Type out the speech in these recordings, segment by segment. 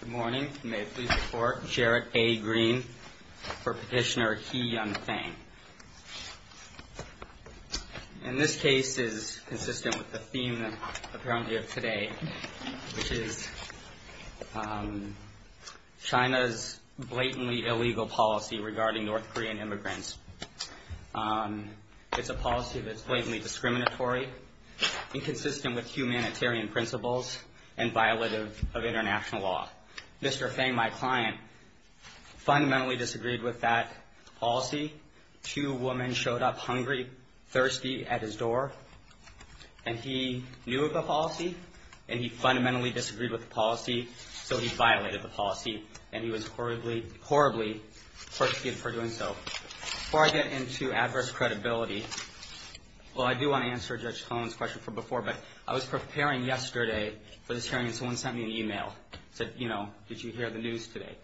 Good morning, may it please the court. Jarrett A. Green for petitioner He Yung-Fang. And this case is consistent with the theme that apparently of today which is China's blatantly illegal policy regarding North Korean immigrants. It's a policy that's blatantly discriminatory, inconsistent with humanitarian principles, and violative of international law. Mr. Fang, my client, fundamentally disagreed with that policy. Two women showed up hungry, thirsty at his door, and he knew of the policy, and he fundamentally disagreed with the policy, so he violated the policy, and he was horribly, horribly persecuted for doing so. Before I get into adverse credibility, well, I do want to answer Judge Cohen's question from this hearing. Someone sent me an email, said, you know, did you hear the news today?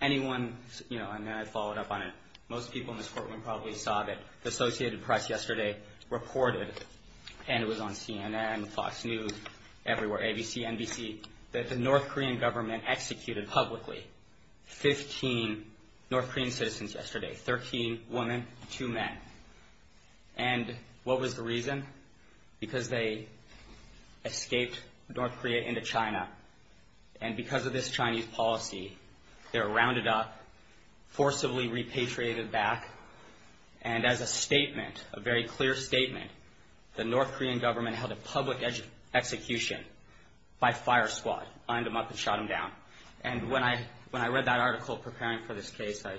Anyone, you know, and then I followed up on it. Most people in this courtroom probably saw that the Associated Press yesterday reported, and it was on CNN, Fox News, everywhere, ABC, NBC, that the North Korean government executed publicly 15 North Korean citizens yesterday, 13 women, two men. And what was the reason? Because they escaped North Korea into China, and because of this Chinese policy, they were rounded up, forcibly repatriated back, and as a statement, a very clear statement, the North Korean government held a public execution by fire squad, lined them up and shot them down. And when I read that article preparing for this case, I,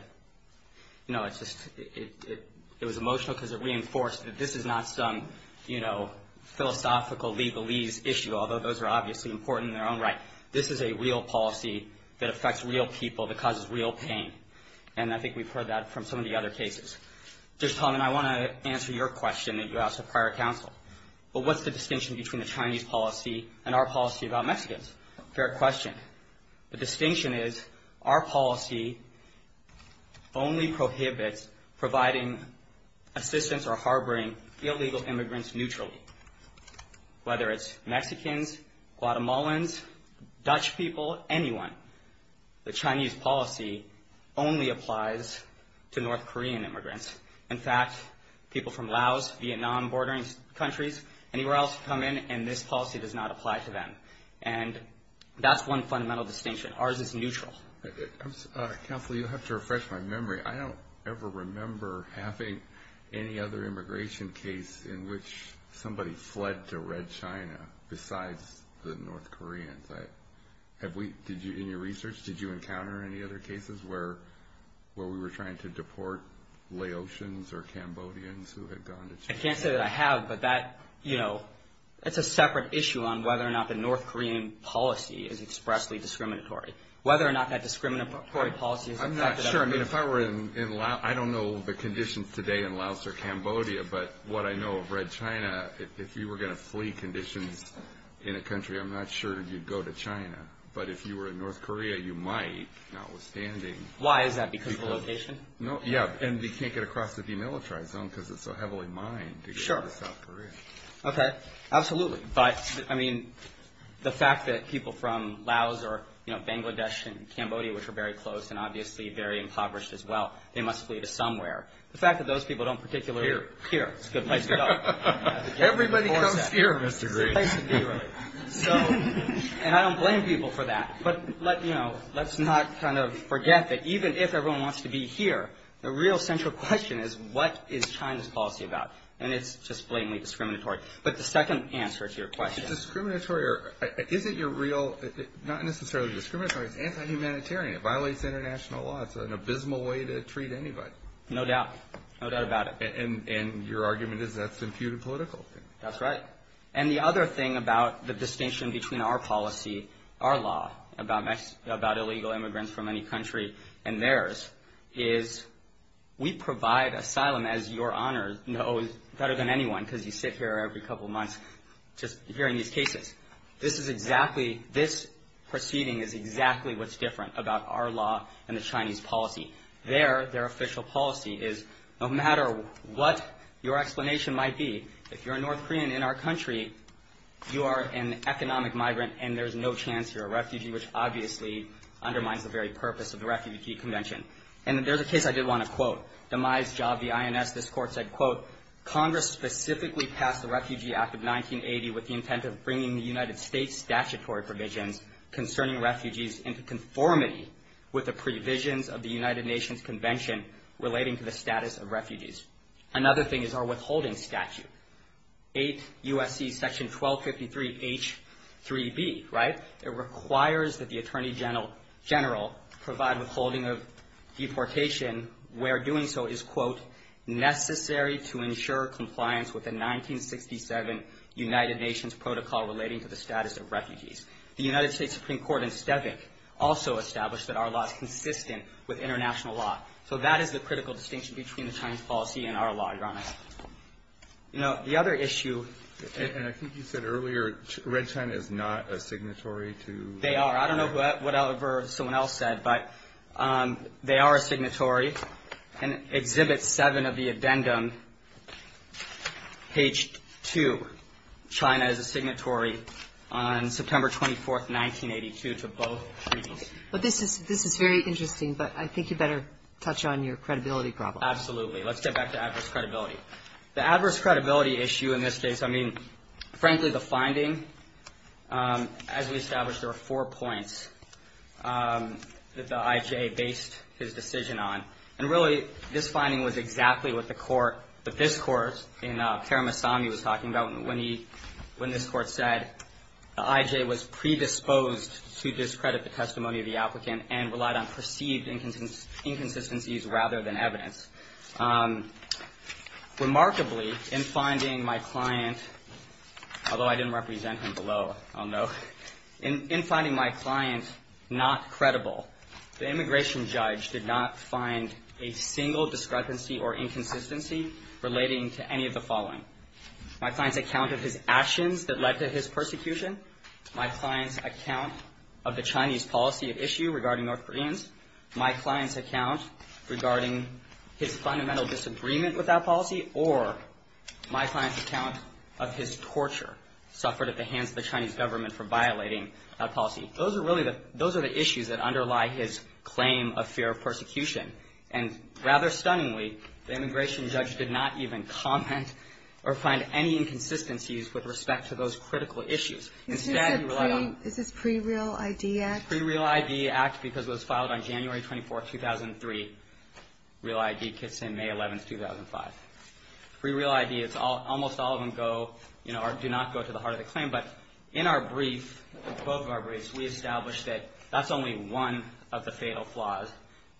you know, it's just, it was emotional because it reinforced that this is not some, you know, philosophical legalese issue, although those are obviously important in their own right. This is a real policy that affects real people, that causes real pain, and I think we've heard that from some of the other cases. Judge Coleman, I want to answer your question that you asked the prior counsel. Well, what's the distinction between the Chinese policy and our policy about only prohibits providing assistance or harboring illegal immigrants neutrally? Whether it's Mexicans, Guatemalans, Dutch people, anyone, the Chinese policy only applies to North Korean immigrants. In fact, people from Laos, Vietnam, bordering countries, anywhere else come in, and this policy does not apply to them. And that's one fundamental distinction. Ours is neutral. Counsel, you'll have to refresh my memory. I don't ever remember having any other immigration case in which somebody fled to Red China besides the North Koreans. Have we, in your research, did you encounter any other cases where we were trying to deport Laotians or Cambodians who had gone to China? I can't say that I have, but that, you know, that's a separate issue on whether or not the North Korean policy is expressly discriminatory, whether or not that discriminatory policy is affected. I'm not sure. I mean, if I were in Laos, I don't know the conditions today in Laos or Cambodia, but what I know of Red China, if you were going to flee conditions in a country, I'm not sure you'd go to China. But if you were in North Korea, you might, notwithstanding. Why is that? Because of the location? No, yeah, and we can't get across the demilitarized zone because it's so heavily mined to South Korea. Okay, absolutely. But, I mean, the fact that people from Laos or, you know, Bangladesh and Cambodia, which are very close and obviously very impoverished as well, they must flee to somewhere. The fact that those people don't particularly... Here. Here. It's a good place to go. Everybody comes here, Mr. Green. So, and I don't blame people for that, but let, you know, let's not kind of forget that even if everyone wants to be here, the real central question is, what is China's policy about? And it's just blatantly discriminatory. But the second answer to your question... It's discriminatory, or is it your real... Not necessarily discriminatory. It's anti-humanitarian. It violates international law. It's an abysmal way to treat anybody. No doubt. No doubt about it. And your argument is that's imputed political. That's right. And the other thing about the distinction between our policy, our law, about illegal immigrants from any country and theirs, is we provide asylum as your honor knows better than anyone because you sit here every couple of months just hearing these cases. This is exactly... This proceeding is exactly what's different about our law and the Chinese policy. Their official policy is no matter what your explanation might be, if you're a North Korean in our country, you are an economic migrant and there's no chance you're a refugee, which obviously undermines the very purpose of the Refugee Convention. And there's a case I did want to quote. Demise Job, the INS, this court said, quote, Congress specifically passed the Refugee Act of 1980 with the intent of bringing the United States statutory provisions concerning refugees into conformity with the provisions of the United Nations Convention relating to the status of refugees. Another thing is our withholding statute, 8 U.S.C. section 1253 H3B, right? It requires that the Attorney General provide withholding of deportation where doing so is, quote, necessary to ensure compliance with the 1967 United Nations protocol relating to the status of refugees. The United States Supreme Court in Stavik also established that our law is consistent with international law. So that is the critical distinction between the Chinese policy and our law, Your Honor. The other issue... And I think you said earlier, Red China is not a signatory to... They are. I don't know whatever someone else said, but they are a signatory. In Exhibit 7 of the addendum, page 2, China is a signatory on September 24th, 1982, to both treaties. But this is very interesting, but I think you better touch on your credibility problem. Absolutely. Let's get back to adverse credibility. The adverse credibility issue in this case, I mean, frankly, the finding, as we established, there were four points that the I.J. based his decision on. And really, this finding was exactly what the court, what this court in Paramasamy was talking about when this court said the I.J. was predisposed to discredit the testimony of the applicant and relied on perceived inconsistencies rather than evidence. Remarkably, in finding my client, although I didn't represent him below, I'll note, in finding my client not credible, the immigration judge did not find a single discrepancy or inconsistency relating to any of the following. My client's account of his actions that led to his persecution, my client's account of the Chinese policy of issue regarding North Koreans, my client's account regarding his fundamental disagreement with that policy, or my client's account of his torture suffered at the hands of the Chinese government for violating that policy. Those are really the issues that underlie his claim of fear of persecution. And rather stunningly, the immigration judge did not even comment or find any inconsistencies with respect to those critical issues. Instead, he relied on. Is this pre-real ID act? Pre-real ID act, because it was filed on January 24, 2003. Real ID kits in May 11, 2005. Pre-real ID, almost all of them go, you know, do not go to the heart of the claim. But in our brief, both of our briefs, we established that that's only one of the fatal flaws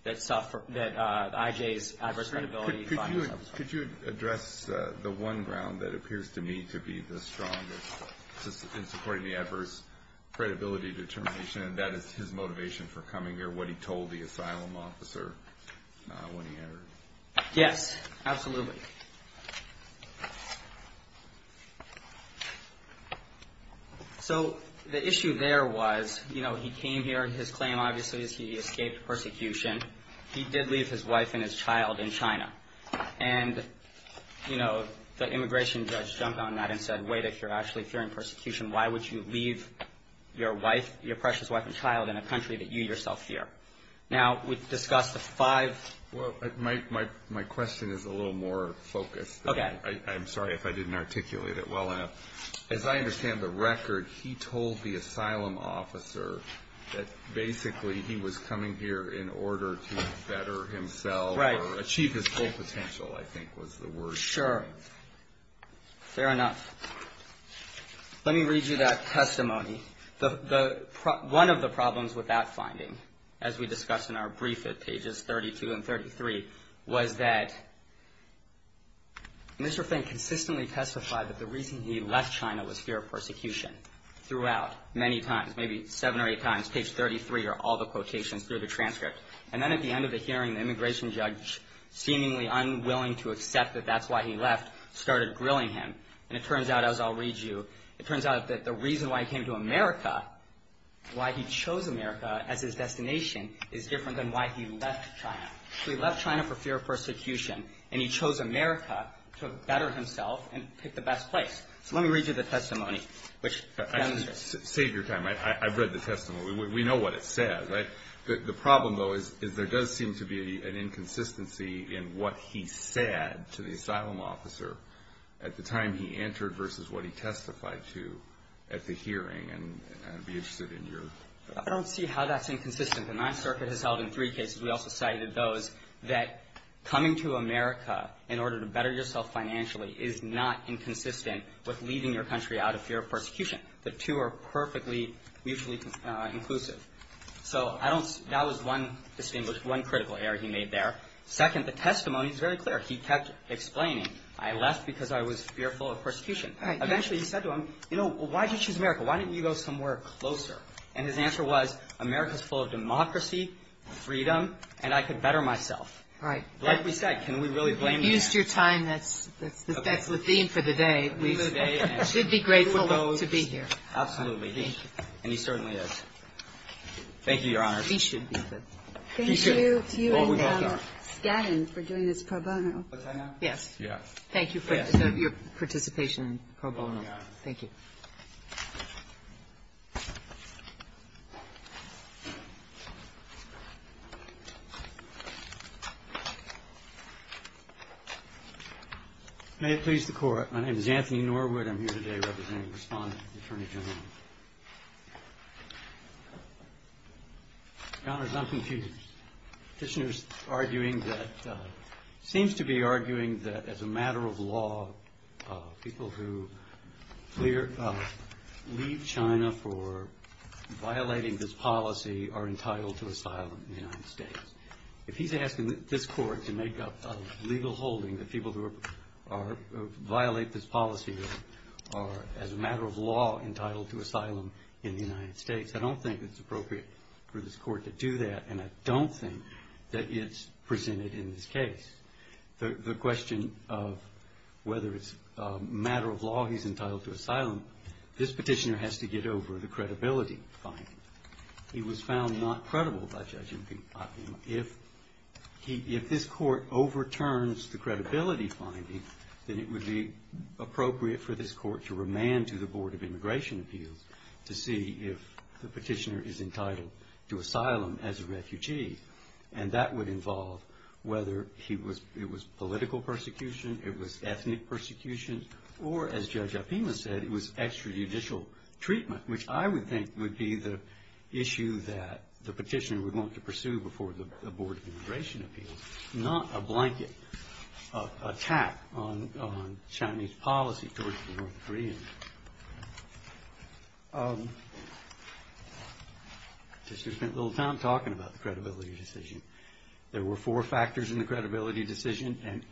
that suffered, that IJ's adverse credibility. Could you address the one ground that appears to me to be the strongest in supporting the adverse credibility determination, and that is his motivation for coming here, what he told the asylum officer when he entered? Yes, absolutely. So the issue there was, you know, he came here, his claim, obviously, is he escaped persecution. He did leave his wife and his child in China. And, you know, the immigration judge jumped on that and said, wait, if you're actually fearing persecution, why would you leave your wife, your precious wife and child in a country that you yourself fear? Now, we've discussed the five. Well, my question is a little more focused. Okay. I'm sorry if I didn't articulate it well enough. As I understand the record, he told the asylum officer that basically he was coming here in order to better himself. Right. Achieve his full potential, I think was the word. Sure. Fair enough. Let me read you that testimony. One of the problems with that finding, as we discussed in our brief at pages 32 and 33, was that Mr. Feng consistently testified that the reason he left China was fear of persecution throughout, many times, maybe seven or eight times, page 33 are all the quotations through the transcript. And then at the end of the hearing, the immigration judge, seemingly unwilling to accept that that's why he left, started grilling him. And it turns out, as I'll read you, it turns out that the reason why he came to America, why he chose America as his destination, is different than why he left China. So he left China for fear of persecution, and he chose America to better himself and pick the best place. So let me read you the testimony, which demonstrates. Save your time. I've read the testimony. We know what it says, right? The problem, though, is there does seem to be an inconsistency in what he said to the asylum officer at the time he entered versus what he testified to at the hearing. And I'd be interested in your. I don't see how that's inconsistent. The Ninth Circuit has held in three cases, we also cited those, that coming to America in order to better yourself financially is not inconsistent with leaving your country out of fear of persecution. The two are perfectly mutually inclusive. So I don't, that was one distinguished, one critical error he made there. Second, the testimony is very clear. He kept explaining, I left because I was fearful of persecution. Eventually, he said to him, you know, why did you choose America? Why didn't you go somewhere closer? And his answer was, America is full of democracy, freedom, and I could better myself. Right. Like we said, can we really blame you? You've used your time. That's the theme for the day. We should be grateful to be here. Absolutely. And he certainly is. Thank you, Your Honor. We should be. Thank you to you and Scanlon for doing this pro bono. Yes. Yes. Thank you for your participation. Pro bono. Thank you. May it please the Court. My name is Anthony Norwood. I'm here today representing the Respondent, the Attorney General. Your Honor, I'm confused. The petitioner is arguing that, seems to be arguing that as a matter of law, people who leave China for violating this policy are entitled to asylum in the United States. If he's asking this Court to make up a legal holding that people who violate this policy are, as a matter of law, entitled to asylum in the United States, I don't think it's appropriate for this Court to do that. And I don't think that it's presented in this case. The question of whether it's a matter of law he's entitled to asylum, this petitioner has to get over the credibility finding. He was found not credible by Judge Impeacock. If he, if this Court overturns the credibility finding, then it would be appropriate for this Court to remand to the Board of Immigration Appeals to see if the petitioner is entitled to asylum as a refugee. And that would involve whether he was, it was political persecution, it was ethnic persecution, or as Judge Opima said, it was extrajudicial treatment, which I would think would be the issue that the petitioner would want to pursue before the Board of Immigration Appeals, not a blanket attack on Chinese policy towards the North Koreans. I just spent a little time talking about the credibility decision. There were four factors in the credibility decision, and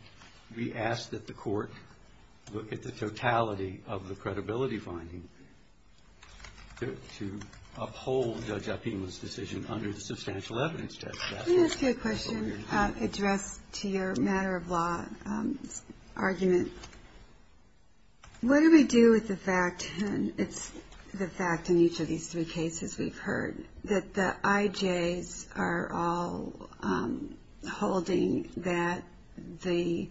we ask that the Court look at the totality of the credibility finding to uphold Judge Opima's decision under the substantial evidence test. Can I ask you a question addressed to your matter of law argument? What do we do with the fact, and it's the fact in each of these three cases we've heard, that the IJs are all holding that the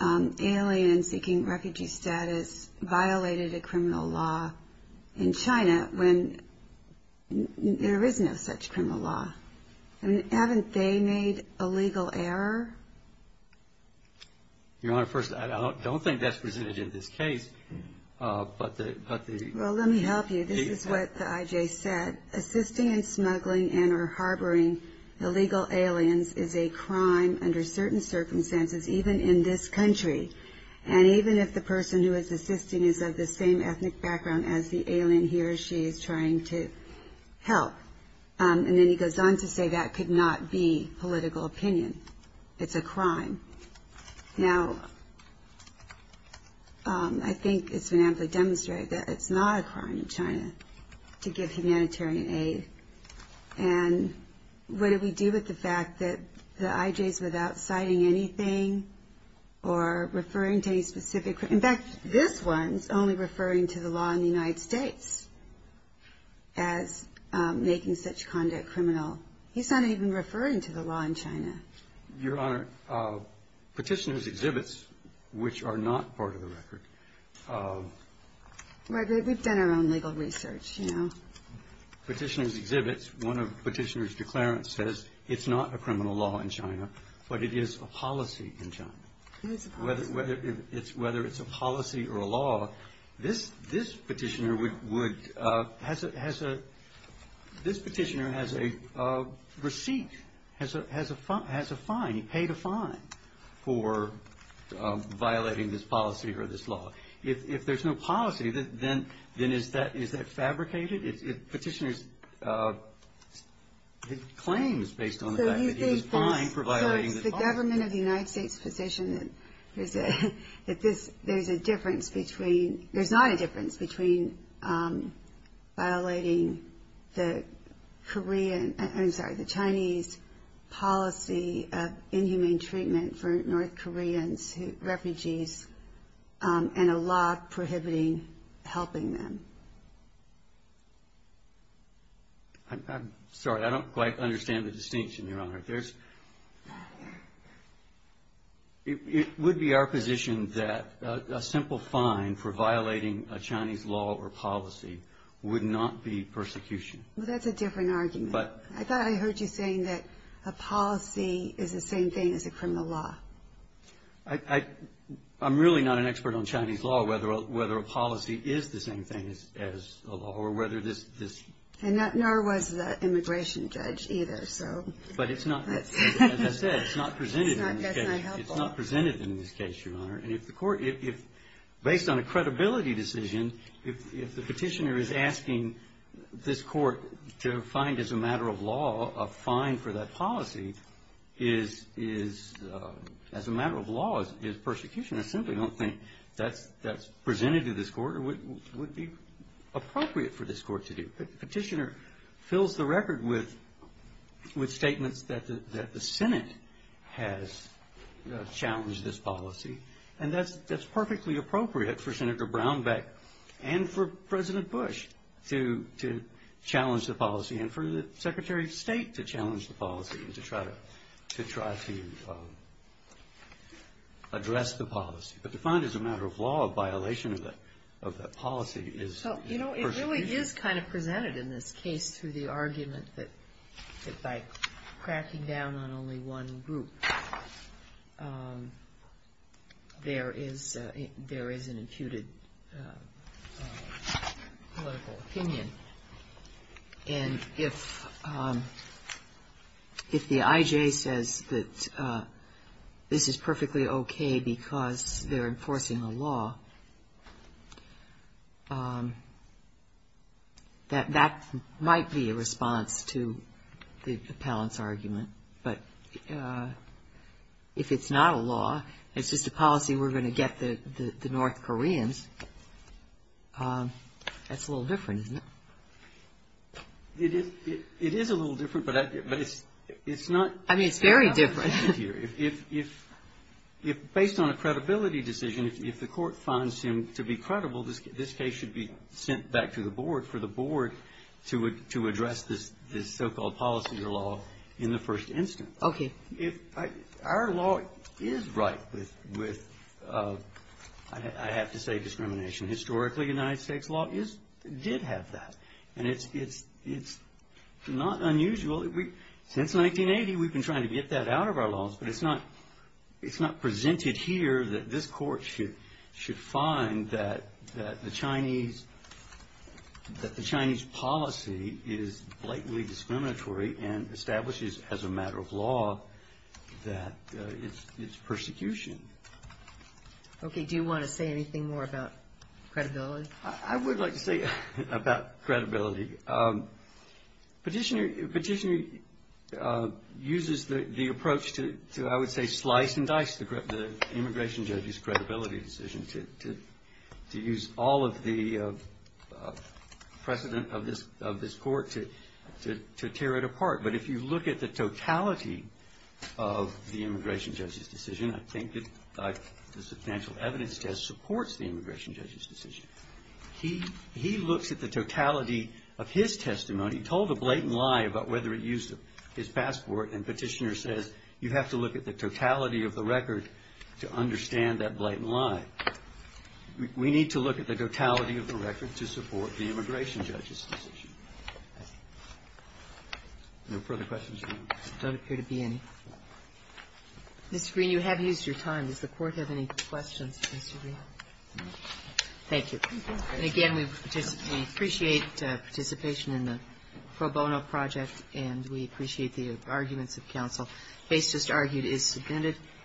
alien seeking refugee status violated a criminal law in China when there is no such criminal law? Haven't they made a legal error? Your Honor, first, I don't think that's presented in this case, but the, but the Well, let me help you. This is what the IJ said. Assisting and smuggling and or harboring illegal aliens is a crime under certain circumstances, even in this country. And even if the person who is assisting is of the same ethnic background as the alien, he or she is trying to help. And then he goes on to say that could not be political opinion. It's a crime. Now, I think it's been amply demonstrated that it's not a crime in China to give humanitarian aid. And what do we do with the fact that the IJs without citing anything or referring to a specific, in fact, this one's only referring to the law in the United States as making such conduct criminal. He's not even referring to the law in China. Your Honor, petitioner's exhibits, which are not part of the record. We've done our own legal research, you know. Petitioner's exhibits, one of petitioner's declarants says it's not a criminal law in China, but it is a policy in China, whether it's whether it's a policy or a law. This petitioner has a receipt, has a fine. He paid a fine for violating this policy or this law. If there's no policy, then is that fabricated? Petitioner's claims based on the fact that he was fined for violating the policy. The government of the United States position is that there's a difference between, there's not a difference between violating the Korean, I'm sorry, the Chinese policy of inhumane treatment for North Koreans, refugees, and a law prohibiting helping them. I'm sorry, I don't quite understand the distinction, Your Honor. There's, it would be our position that a simple fine for violating a Chinese law or policy would not be persecution. Well, that's a different argument. But. I thought I heard you saying that a policy is the same thing as a criminal law. I'm really not an expert on Chinese law, whether a policy is the same thing as a law or whether this, this. And nor was the immigration judge either, so. But it's not, as I said, it's not presented in this case. It's not presented in this case, Your Honor. And if the Court, if based on a credibility decision, if the Petitioner is asking this Court to find as a matter of law a fine for that policy is, is, as a matter of law, is persecution. I simply don't think that's, that's presented to this Court or would, would be appropriate for this Court to do. Petitioner fills the record with, with statements that the, that the Senate has challenged this policy. And that's, that's perfectly appropriate for Senator Brownback and for President Bush to, to challenge the policy and for the Secretary of State to challenge the policy and to try to, to try to address the policy. But to find as a matter of law a violation of that, of that policy is. So, you know, it really is kind of presented in this case through the argument that, that by cracking down on only one group, there is, there is an imputed political opinion. And if, if the IJ says that this is perfectly okay because they're enforcing a law, that, that might be a response to the, the Pellant's argument. But if it's not a law, it's just a policy we're going to get the, the, the North Koreans, that's a little different, isn't it? It is, it is a little different, but I, but it's, it's not. I mean, it's very different. If, if, if, if based on a credibility decision, if, if the Court finds him to be credible, this case should be sent back to the Board for the Board to, to address this, this so-called policy or law in the first instance. Okay. If I, our law is right with, with, I have to say discrimination. Historically, United States law is, did have that. And it's, it's, it's not unusual. Since 1980, we've been trying to get that out of our laws, but it's not, it's not presented here that this Court should, should find that, that the Chinese, that the Chinese policy is blatantly discriminatory and establishes as a matter of law that it's, it's persecution. Okay. Do you want to say anything more about credibility? I would like to say about credibility. Petitioner, petitioner uses the, the approach to, to I would say slice and dice the, the immigration judge's credibility decision to, to, to use all of the precedent of this, of this Court to, to, to tear it apart. But if you look at the totality of the immigration judge's decision, I think that the substantial evidence test supports the immigration judge's decision. He, he looks at the totality of his testimony, told a blatant lie about whether it used his passport, and petitioner says you have to look at the totality of the record to understand that blatant lie. We need to look at the totality of the record to support the immigration judge's decision. No further questions? There don't appear to be any. Mr. Green, you have used your time. Does the Court have any questions for Mr. Green? Thank you. Again, we appreciate participation in the pro bono project, and we appreciate the arguments of counsel. Case just argued is subpoenaed.